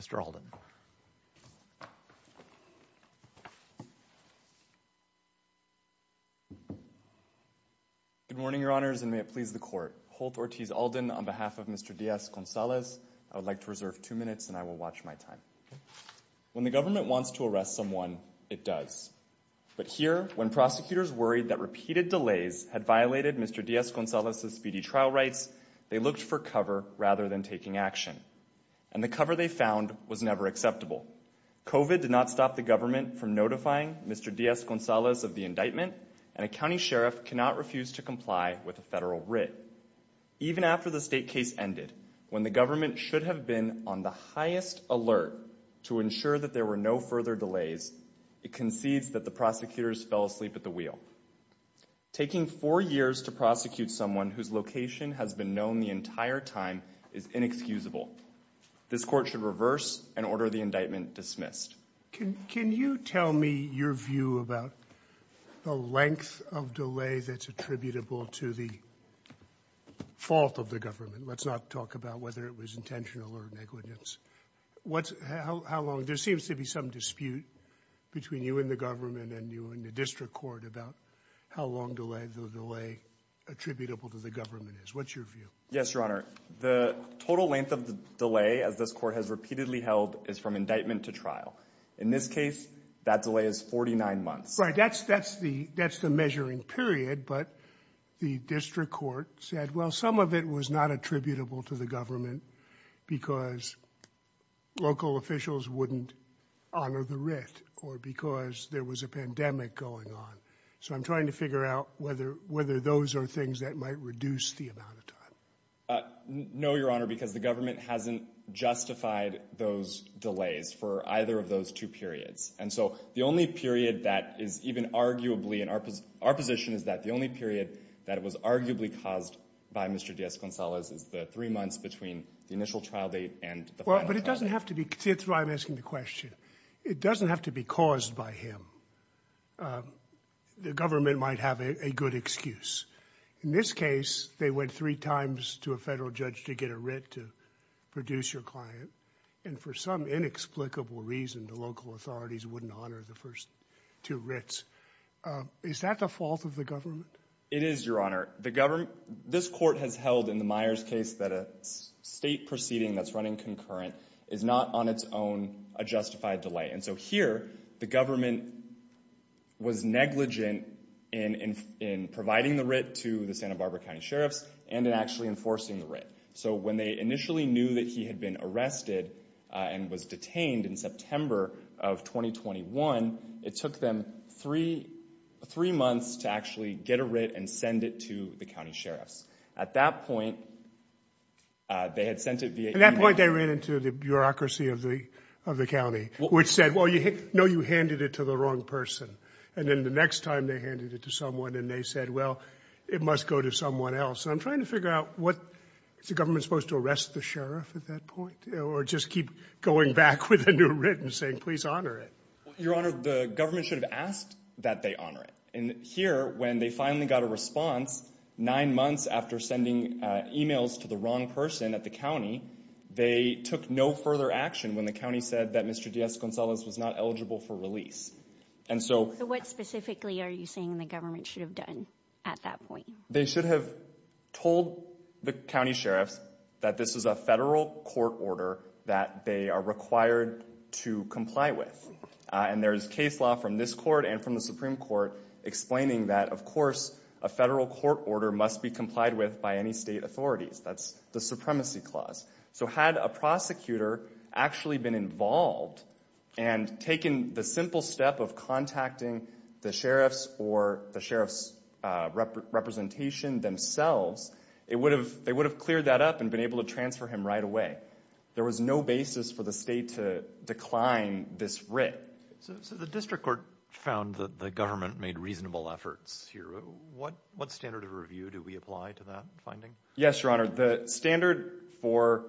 Mr. Alden Good morning, Your Honors, and may it please the court. Holt Ortiz Alden on behalf of Mr. Diaz-Gonzalez I would like to reserve two minutes and I will watch my time When the government wants to arrest someone it does But here when prosecutors worried that repeated delays had violated Mr. Diaz-Gonzalez's speedy trial rights They looked for cover rather than taking action and the cover they found was never acceptable COVID did not stop the government from notifying Mr. Diaz-Gonzalez of the indictment and a county sheriff cannot refuse to comply with a federal writ Even after the state case ended when the government should have been on the highest alert to ensure that there were no further delays It concedes that the prosecutors fell asleep at the wheel Taking four years to prosecute someone whose location has been known the entire time is inexcusable This court should reverse and order the indictment dismissed Can you tell me your view about the length of delay that's attributable to the Fault of the government. Let's not talk about whether it was intentional or negligence What's how long there seems to be some dispute? Between you and the government and you and the district court about how long delay the delay Attributable to the government is what's your view? Yes, your honor The total length of the delay as this court has repeatedly held is from indictment to trial in this case That delay is 49 months, right? that's that's the that's the measuring period but the district court said well some of it was not attributable to the government because Local officials wouldn't honor the writ or because there was a pandemic going on So I'm trying to figure out whether whether those are things that might reduce the amount of time No, your honor because the government hasn't Justified those delays for either of those two periods and so the only period that is even Arguably in our position is that the only period that was arguably caused by mr Gonzalez is the three months between the initial trial date and well, but it doesn't have to be kids I'm asking the question. It doesn't have to be caused by him The government might have a good excuse in this case they went three times to a federal judge to get a writ to Produce your client and for some inexplicable reason the local authorities wouldn't honor the first two writs Is that the fault of the government it is your honor the government? this court has held in the Myers case that a State proceeding that's running concurrent is not on its own a justified delay. And so here the government Was negligent in in in providing the writ to the Santa Barbara County Sheriff's and in actually enforcing the writ so when they initially knew that he had been arrested and was detained in September of 2021 it took them three three months to actually get a writ and send it to the county sheriff's at that point They had sent it via that point They ran into the bureaucracy of the of the county which said well you know You handed it to the wrong person and then the next time they handed it to someone and they said well It must go to someone else I'm trying to figure out what it's the government supposed to arrest the sheriff at that point or just keep Going back with a new written saying please honor it your honor The government should have asked that they honor it and here when they finally got a response Nine months after sending emails to the wrong person at the county They took no further action when the county said that mr. Diaz Gonzalez was not eligible for release And so what specifically are you saying the government should have done at that point? They should have told the county sheriff's that this is a federal court order that they are required to Comply with and there is case law from this court and from the Supreme Court Explaining that of course a federal court order must be complied with by any state authorities That's the supremacy clause so had a prosecutor actually been involved and Taken the simple step of contacting the sheriff's or the sheriff's Representation Themselves it would have they would have cleared that up and been able to transfer him right away There was no basis for the state to decline this writ So the district court found that the government made reasonable efforts here. What what standard of review do we apply to that finding? Yes, your honor the standard for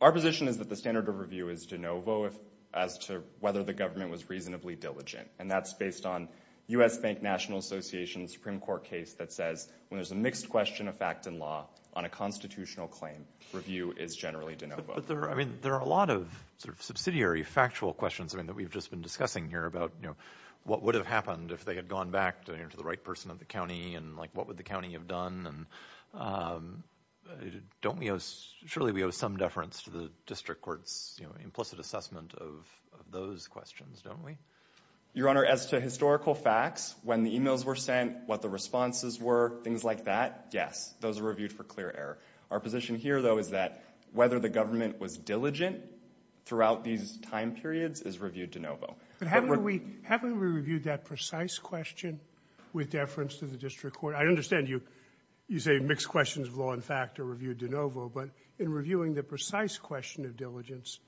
our position is that the standard of review is de novo if as to whether the government was reasonably Diligent and that's based on u.s Bank National Association Supreme Court case that says when there's a mixed question of fact in law on a constitutional claim Review is generally de novo. I mean there are a lot of sort of subsidiary factual questions I mean that we've just been discussing here about you know what would have happened if they had gone back to the right person of the county and like what would the county have done and Don't we surely we have some deference to the district courts, you know implicit assessment of those questions, don't we? Your honor as to historical facts when the emails were sent what the responses were things like that Yes, those are reviewed for clear error. Our position here though is that whether the government was diligent Throughout these time periods is reviewed de novo But how do we have we reviewed that precise question with deference to the district court? I understand you you say mixed questions of law and fact are reviewed de novo But in reviewing the precise question of diligence,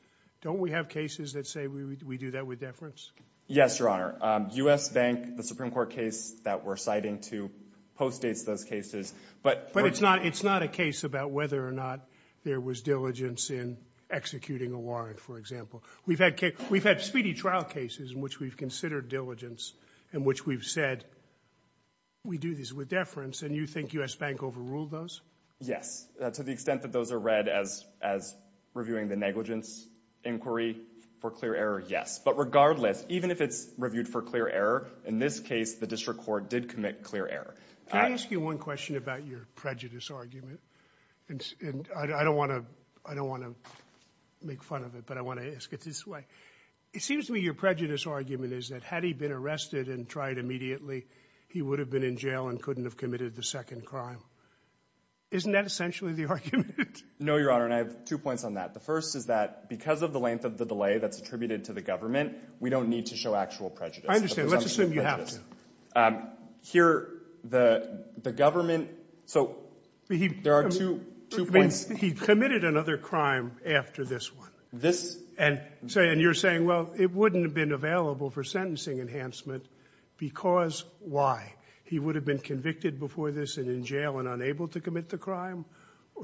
don't we have cases that say we do that with deference? Yes, your honor US Bank the Supreme Court case that we're citing to post dates those cases But but it's not it's not a case about whether or not there was diligence in Executing a warrant. For example, we've had cake. We've had speedy trial cases in which we've considered diligence in which we've said We do this with deference and you think US Bank overruled those. Yes to the extent that those are read as as The negligence inquiry for clear error. Yes, but regardless even if it's reviewed for clear error in this case The district court did commit clear error. I ask you one question about your prejudice argument And I don't want to I don't want to make fun of it, but I want to ask it this way It seems to me your prejudice argument is that had he been arrested and tried immediately He would have been in jail and couldn't have committed the second crime Isn't that essentially the argument? No, your honor, and I have two points on that The first is that because of the length of the delay that's attributed to the government. We don't need to show actual prejudice I understand. Let's assume you have here the the government so There are two He committed another crime after this one this and say and you're saying well It wouldn't have been available for sentencing enhancement Because why he would have been convicted before this and in jail and unable to commit the crime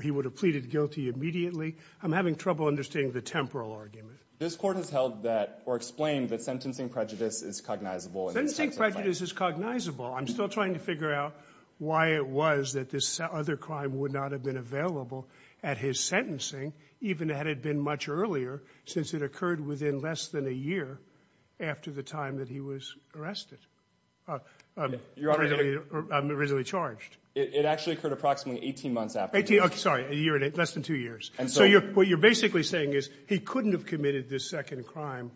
He would have pleaded guilty immediately I'm having trouble understanding the temporal argument this court has held that or explained that sentencing prejudice is cognizable I don't think prejudice is cognizable I'm still trying to figure out why it was that this other crime would not have been available at his Sentencing even had it been much earlier since it occurred within less than a year After the time that he was arrested I'm Originally charged it actually occurred approximately 18 months after 18 I'm sorry a year in it less than two years. And so you're what you're basically saying is he couldn't have committed this second crime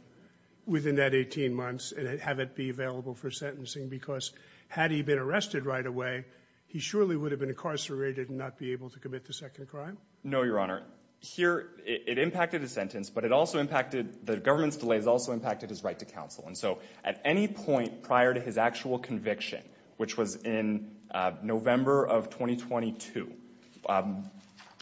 Within that 18 months and have it be available for sentencing because had he been arrested right away He surely would have been incarcerated and not be able to commit the second crime No, your honor here it impacted a sentence But it also impacted the government's delays also impacted his right to counsel And so at any point prior to his actual conviction, which was in November of 2022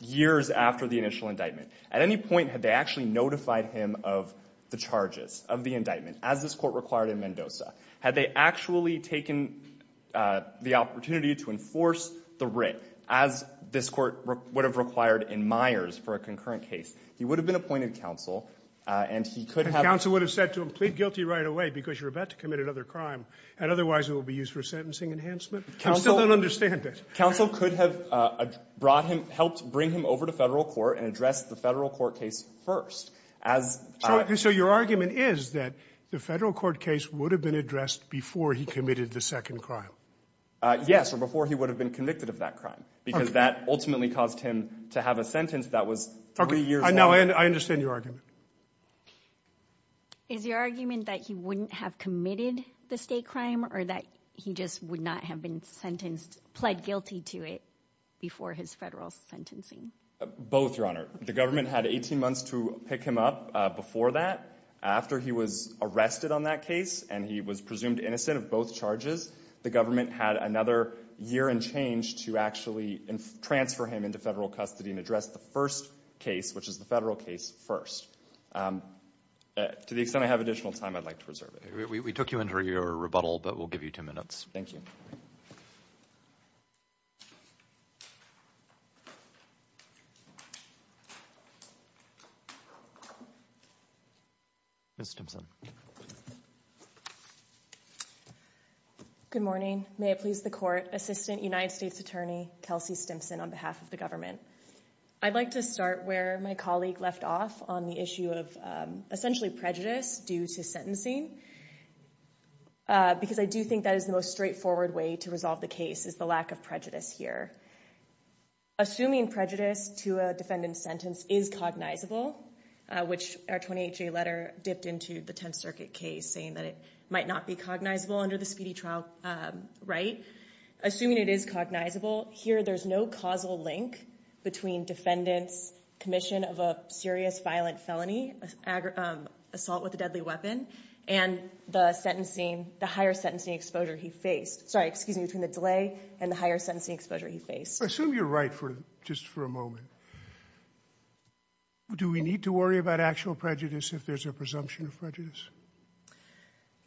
Years after the initial indictment at any point had they actually notified him of The charges of the indictment as this court required in Mendoza had they actually taken? the opportunity to enforce the writ as This court would have required in Myers for a concurrent case He would have been appointed counsel and he could have counsel would have said to him plead guilty right away because you're about to commit another crime and otherwise it will Be used for sentencing enhancement. I still don't understand it counsel could have Brought him helped bring him over to federal court and addressed the federal court case first as So your argument is that the federal court case would have been addressed before he committed the second crime Yes or before he would have been convicted of that crime because that ultimately caused him to have a sentence that was Three years now and I understand your argument Is your argument that he wouldn't have committed the state crime or that he just would not have been sentenced pled guilty to it Before his federal sentencing both your honor The government had 18 months to pick him up before that After he was arrested on that case and he was presumed innocent of both charges the government had another year and change to actually and transfer him into federal custody and address the first case, which is the federal case first To the extent I have additional time. I'd like to reserve it. We took you into your rebuttal, but we'll give you two minutes Thank you Miss Simpson Good morning, may it please the court assistant United States Attorney Kelsey Stimpson on behalf of the government I'd like to start where my colleague left off on the issue of essentially prejudice due to sentencing Because I do think that is the most straightforward way to resolve the case is the lack of prejudice here Assuming prejudice to a defendant sentence is cognizable Which our 28g letter dipped into the Tenth Circuit case saying that it might not be cognizable under the speedy trial Right, assuming it is cognizable here. There's no causal link between defendants commission of a serious violent felony Assault with a deadly weapon and the sentencing the higher sentencing exposure He faced sorry, excuse me between the delay and the higher sentencing exposure. He faced I assume you're right for just for a moment Do we need to worry about actual prejudice if there's a presumption of prejudice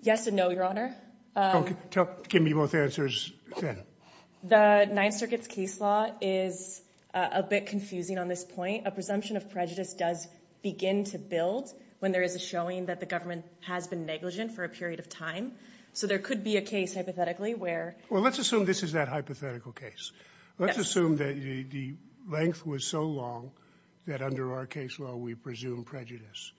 Yes, and no your honor Give me both answers the Ninth Circuit's case law is a bit confusing on this point a presumption of prejudice does Begin to build when there is a showing that the government has been negligent for a period of time So there could be a case hypothetically where well, let's assume this is that hypothetical case Let's assume that the length was so long that under our case law. We presume prejudice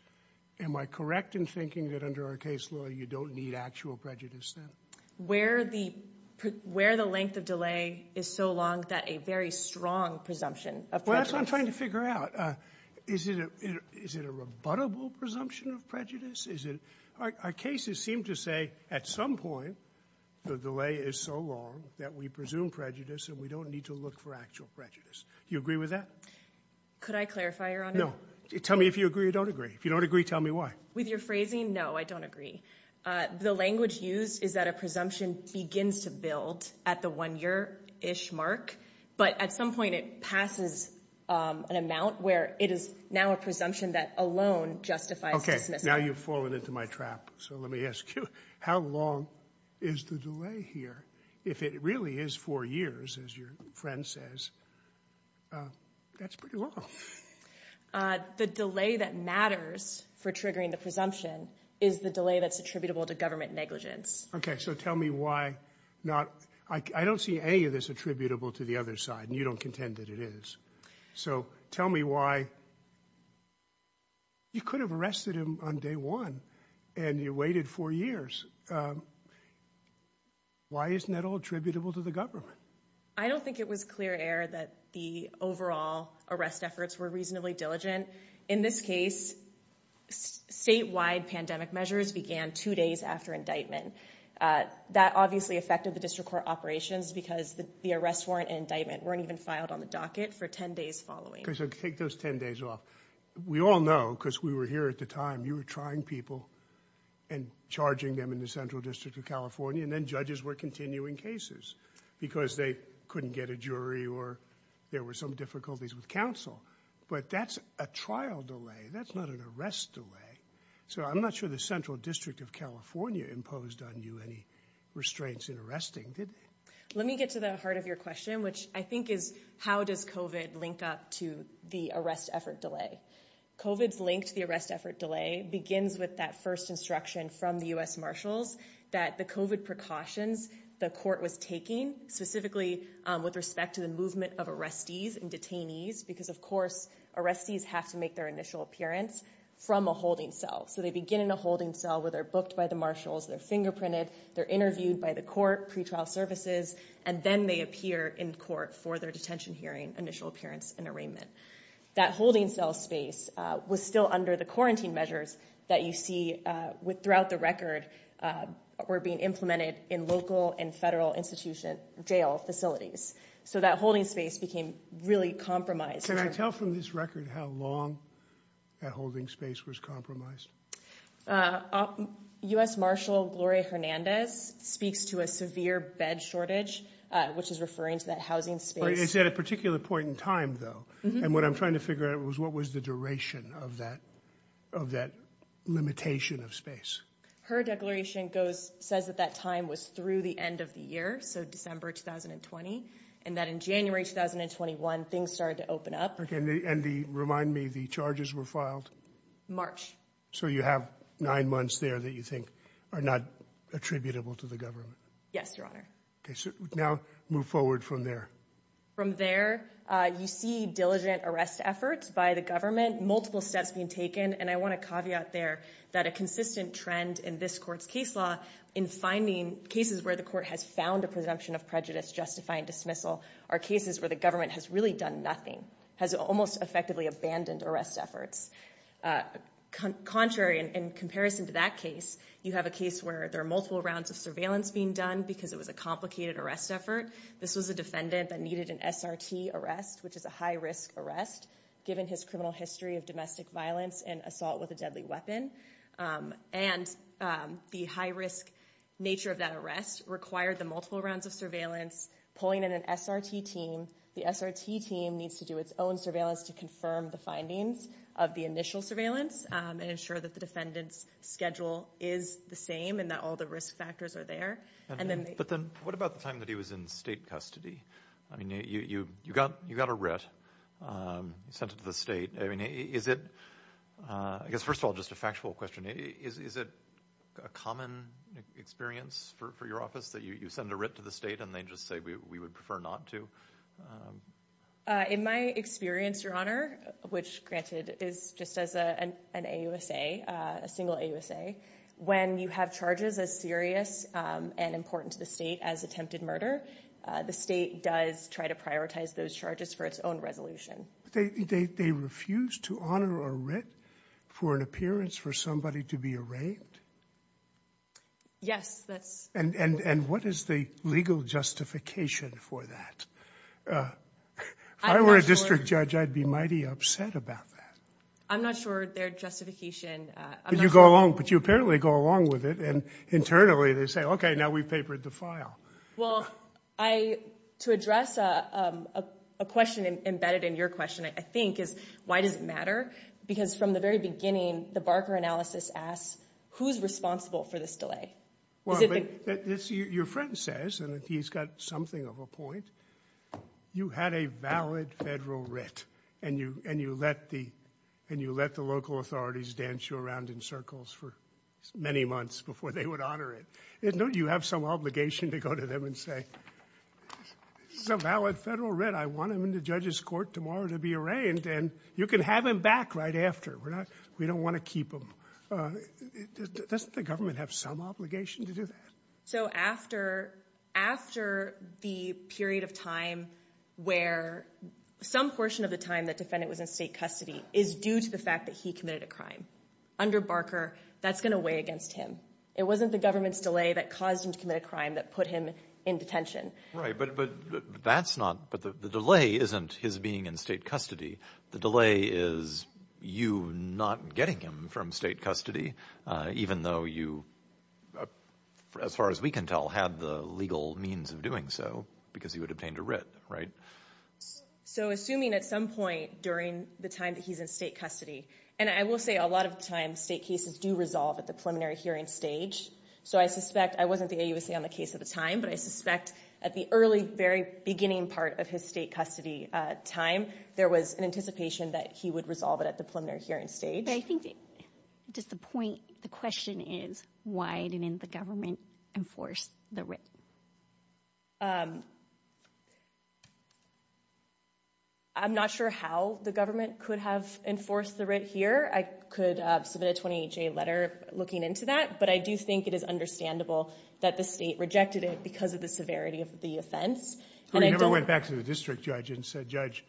Am I correct in thinking that under our case law? You don't need actual prejudice then where the Where the length of delay is so long that a very strong presumption of what I'm trying to figure out Is it is it a rebuttable presumption of prejudice? Is it our cases seem to say at some point? The delay is so long that we presume prejudice and we don't need to look for actual prejudice. Do you agree with that? Could I clarify your honor? No, tell me if you agree. You don't agree. If you don't agree. Tell me why with your phrasing No, I don't agree The language used is that a presumption begins to build at the one year ish mark, but at some point it passes An amount where it is now a presumption that alone justifies. Okay. Now you've fallen into my trap So, let me ask you how long is the delay here if it really is four years as your friend says That's pretty long The delay that matters for triggering the presumption is the delay that's attributable to government negligence Okay So tell me why not I don't see any of this attributable to the other side and you don't contend that it is So tell me why You could have arrested him on day one and you waited four years Why Isn't that all attributable to the government I don't think it was clear air that the overall arrest efforts were reasonably diligent in this case Statewide pandemic measures began two days after indictment That obviously affected the district court operations because the arrest warrant and indictment weren't even filed on the docket for ten days following Okay, so take those ten days off. We all know because we were here at the time. You were trying people and Charging them in the Central District of California and then judges were continuing cases Because they couldn't get a jury or there were some difficulties with counsel, but that's a trial delay That's not an arrest delay. So I'm not sure the Central District of California imposed on you any restraints in arresting did let me get to the heart of your question, which I think is how does kovat link up to the arrest effort delay Kovats linked the arrest effort delay begins with that first instruction from the US Marshals that the kovat Precautions the court was taking specifically with respect to the movement of arrestees and detainees because of course Arrestees have to make their initial appearance from a holding cell So they begin in a holding cell where they're booked by the marshals their fingerprinted They're interviewed by the court pretrial services and then they appear in court for their detention hearing initial appearance and arraignment That holding cell space was still under the quarantine measures that you see with throughout the record We're being implemented in local and federal institution jail facilities So that holding space became really compromised and I tell from this record how long That holding space was compromised US Marshal Gloria Hernandez Speaks to a severe bed shortage, which is referring to that housing space at a particular point in time though And what I'm trying to figure out was what was the duration of that of that? Limitation of space her declaration goes says that that time was through the end of the year So December 2020 and that in January 2021 things started to open up Okay, and the remind me the charges were filed March so you have nine months there that you think are not attributable to the government. Yes, your honor Okay, so now move forward from there from there You see diligent arrest efforts by the government multiple steps being taken and I want to caveat there that a consistent trend in this Court's case law in finding cases where the court has found a presumption of prejudice Justifying dismissal are cases where the government has really done. Nothing has almost effectively abandoned arrest efforts Contrary in comparison to that case you have a case where there are multiple rounds of surveillance being done because it was a complicated arrest This was a defendant that needed an SRT arrest Which is a high-risk arrest given his criminal history of domestic violence and assault with a deadly weapon and the high-risk nature of that arrest required the multiple rounds of surveillance Pulling in an SRT team the SRT team needs to do its own surveillance to confirm the findings of the initial surveillance And ensure that the defendants schedule is the same and that all the risk factors are there and then but then what about the time? He was in state custody. I mean you you you got you got a writ Sent it to the state. I mean, is it I guess first of all just a factual question. Is it a common? Experience for your office that you send a writ to the state and they just say we would prefer not to In my experience your honor Which granted is just as an a USA a single a USA when you have charges as serious And important to the state as attempted murder the state does try to prioritize those charges for its own resolution They they refuse to honor or writ for an appearance for somebody to be arraigned Yes, that's and and and what is the legal justification for that I Were a district judge I'd be mighty upset about that. I'm not sure their justification You go along but you apparently go along with it and internally they say, okay now we've papered the file well I to address a Question embedded in your question. I think is why does it matter because from the very beginning the Barker analysis asks Who's responsible for this delay? Your friend says and if he's got something of a point You had a valid federal writ and you and you let the and you let the local authorities dance you around in circles for Many months before they would honor it. It don't you have some obligation to go to them and say Some valid federal writ. I want him in the judge's court tomorrow to be arraigned and you can have him back right after we're not We don't want to keep him Doesn't the government have some obligation to do that? So after After the period of time where Some portion of the time that defendant was in state custody is due to the fact that he committed a crime Under Barker that's gonna weigh against him It wasn't the government's delay that caused him to commit a crime that put him in detention, right? But that's not but the delay isn't his being in state custody. The delay is You not getting him from state custody even though you As far as we can tell had the legal means of doing so because he would obtained a writ, right So assuming at some point during the time that he's in state custody And I will say a lot of times state cases do resolve at the preliminary hearing stage So I suspect I wasn't the a USA on the case at the time But I suspect at the early very beginning part of his state custody Time there was an anticipation that he would resolve it at the preliminary hearing stage Does the point the question is why didn't the government enforce the writ I'm not sure how the government could have enforced the writ here I could submit a 28-day letter looking into that But I do think it is understandable that the state rejected it because of the severity of the offense I never went back to the district judge and said judge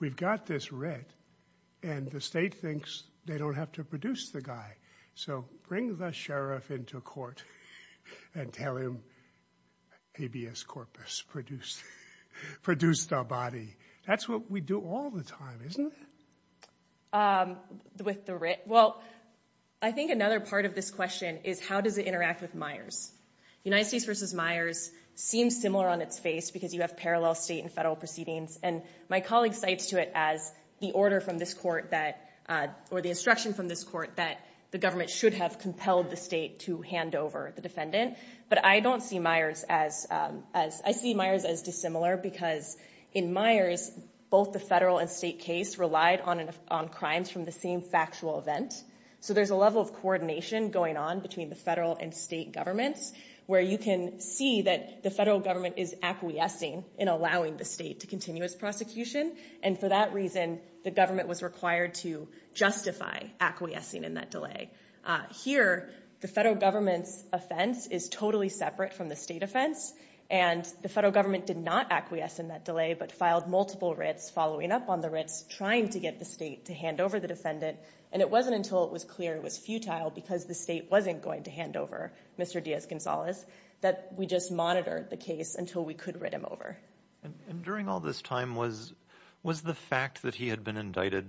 we've got this writ and The state thinks they don't have to produce the guy. So bring the sheriff into court and tell him ABS corpus produced Produced our body. That's what we do all the time, isn't it? With the writ well, I think another part of this question is how does it interact with Myers? United States versus Myers seems similar on its face because you have parallel state and federal proceedings and my colleague cites to it as The order from this court that or the instruction from this court that the government should have compelled the state to hand over the defendant But I don't see Myers as as I see Myers as dissimilar because in Myers Both the federal and state case relied on and on crimes from the same factual event So there's a level of coordination going on between the federal and state governments Where you can see that the federal government is acquiescing in allowing the state to continuous prosecution And for that reason the government was required to justify acquiescing in that delay Here the federal government's offense is totally separate from the state offense and the federal government did not acquiesce in that delay But filed multiple writs following up on the writs trying to get the state to hand over the defendant and it wasn't until it was Clear it was futile because the state wasn't going to hand over. Mr Diaz-Gonzalez that we just monitored the case until we could read him over During all this time was was the fact that he had been indicted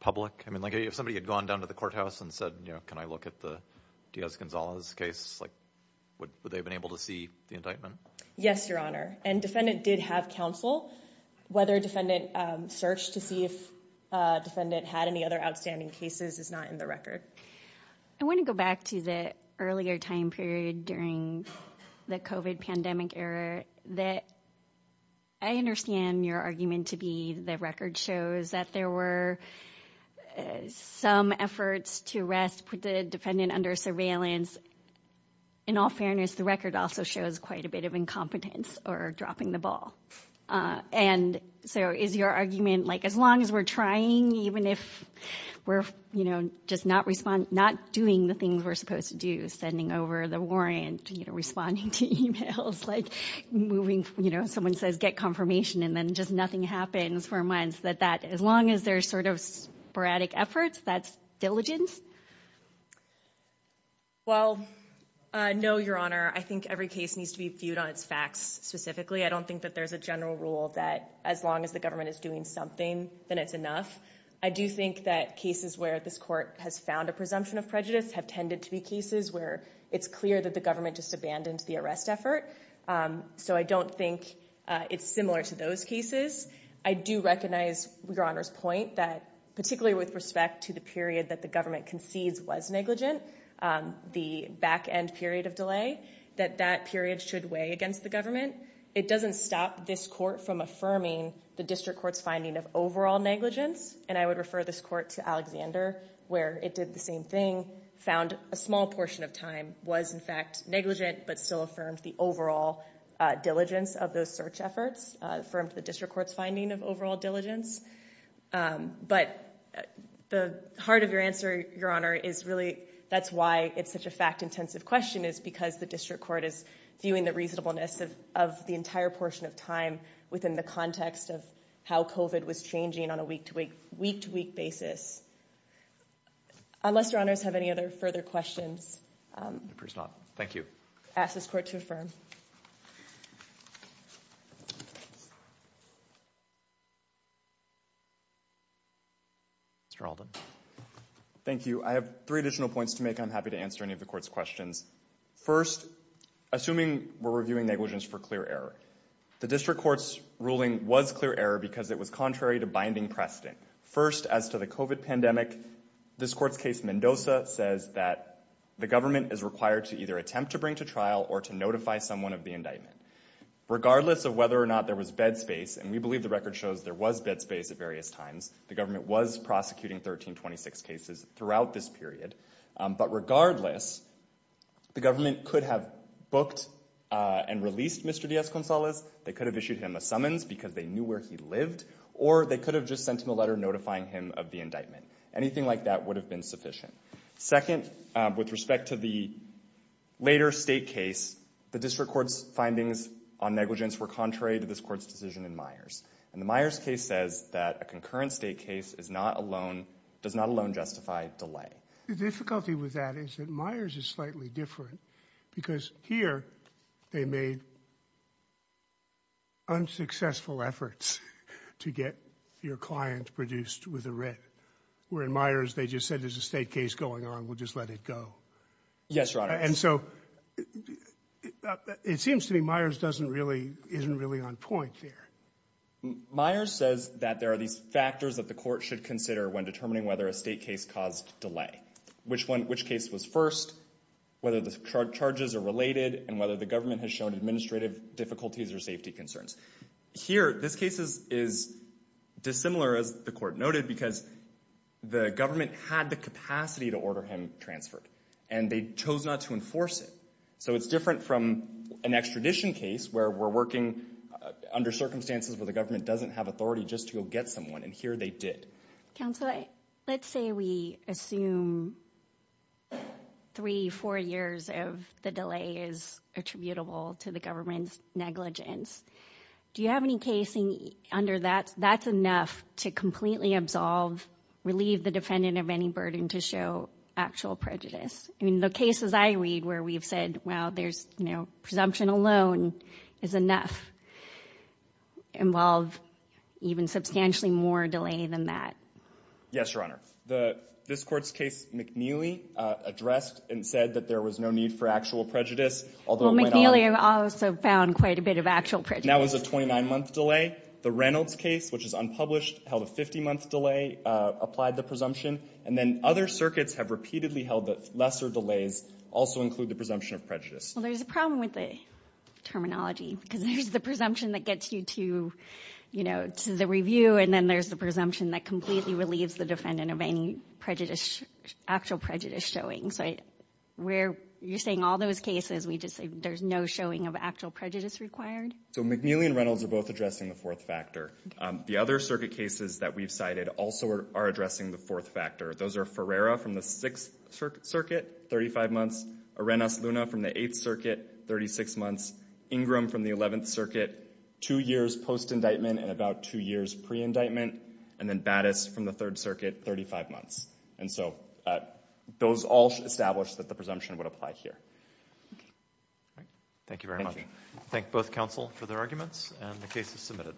Public. I mean like if somebody had gone down to the courthouse and said, you know Can I look at the Diaz-Gonzalez case like what they've been able to see the indictment? Yes, your honor and defendant did have counsel whether defendant searched to see if Defendant had any other outstanding cases is not in the record. I want to go back to the earlier time period during the kovat pandemic error that I understand your argument to be the record shows that there were Some efforts to arrest put the defendant under surveillance In all fairness the record also shows quite a bit of incompetence or dropping the ball and so is your argument like as long as we're trying even if We're you know, just not respond not doing the things we're supposed to do sending over the warrant, you know responding to emails like Moving, you know Someone says get confirmation and then just nothing happens for months that that as long as there's sort of sporadic efforts. That's diligence Well, I Know your honor. I think every case needs to be viewed on its facts specifically I don't think that there's a general rule that as long as the government is doing something then it's enough I do think that cases where this court has found a presumption of prejudice have tended to be cases where it's clear that the government Just abandoned the arrest effort So I don't think it's similar to those cases I do recognize your honor's point that particularly with respect to the period that the government concedes was negligent The back-end period of delay that that period should weigh against the government It doesn't stop this court from affirming the district courts finding of overall negligence And I would refer this court to Alexander where it did the same thing Found a small portion of time was in fact negligent, but still affirmed the overall Diligence of those search efforts affirmed the district courts finding of overall diligence but the heart of your answer your honor is really that's why it's such a fact-intensive question is because the district court is Viewing the reasonableness of the entire portion of time within the context of how kovat was changing on a week-to-week week-to-week basis Unless your honors have any other further questions, thank you ask this court to affirm Mr. Alden Thank you. I have three additional points to make I'm happy to answer any of the court's questions first Assuming we're reviewing negligence for clear error The district courts ruling was clear error because it was contrary to binding precedent first as to the kovat pandemic This court's case Mendoza says that the government is required to either attempt to bring to trial or to notify someone of the indictment Regardless of whether or not there was bed space and we believe the record shows there was bed space at various times The government was prosecuting 1326 cases throughout this period but regardless The government could have booked And released mr. Diaz-Gonzalez they could have issued him a summons because they knew where he lived or they could have just sent him a letter notifying Him of the indictment anything like that would have been sufficient second with respect to the later state case The district courts findings on negligence were contrary to this court's decision in Myers and the Myers case says that a concurrent state case Is not alone does not alone justify delay the difficulty with that is that Myers is slightly different Because here they made Unsuccessful efforts to get your client produced with a writ Where in Myers they just said there's a state case going on. We'll just let it go Yes, right. And so It seems to me Myers doesn't really isn't really on point there Myers says that there are these factors that the court should consider when determining whether a state case caused delay Which one which case was first? Whether the charges are related and whether the government has shown administrative difficulties or safety concerns here. This case is is dissimilar as the court noted because The government had the capacity to order him transferred and they chose not to enforce it So it's different from an extradition case where we're working Under circumstances where the government doesn't have authority just to go get someone and here they did counsel. I let's say we assume Three four years of the delay is attributable to the government's negligence Do you have any casing under that that's enough to completely absolve? Relieve the defendant of any burden to show actual prejudice I mean the cases I read where we've said well, there's no presumption alone is enough Involve Even substantially more delay than that Yes, your honor the this court's case McNeely Addressed and said that there was no need for actual prejudice Although McNeely have also found quite a bit of actual print now is a 29 month delay the Reynolds case Which is unpublished held a 50 month delay Applied the presumption and then other circuits have repeatedly held that lesser delays also include the presumption of prejudice. There's a problem with the Terminology because there's the presumption that gets you to You know to the review and then there's the presumption that completely relieves the defendant of any prejudice actual prejudice showing so Where you're saying all those cases we just say there's no showing of actual prejudice required So McNeely and Reynolds are both addressing the fourth factor The other circuit cases that we've cited also are addressing the fourth factor Those are Ferreira from the 6th circuit 35 months, Arenas Luna from the 8th circuit 36 months Ingram from the 11th circuit two years post-indictment and about two years pre-indictment and then Battis from the 3rd circuit 35 months and so Those all should establish that the presumption would apply here Thank you very much, thank both counsel for their arguments and the case is submitted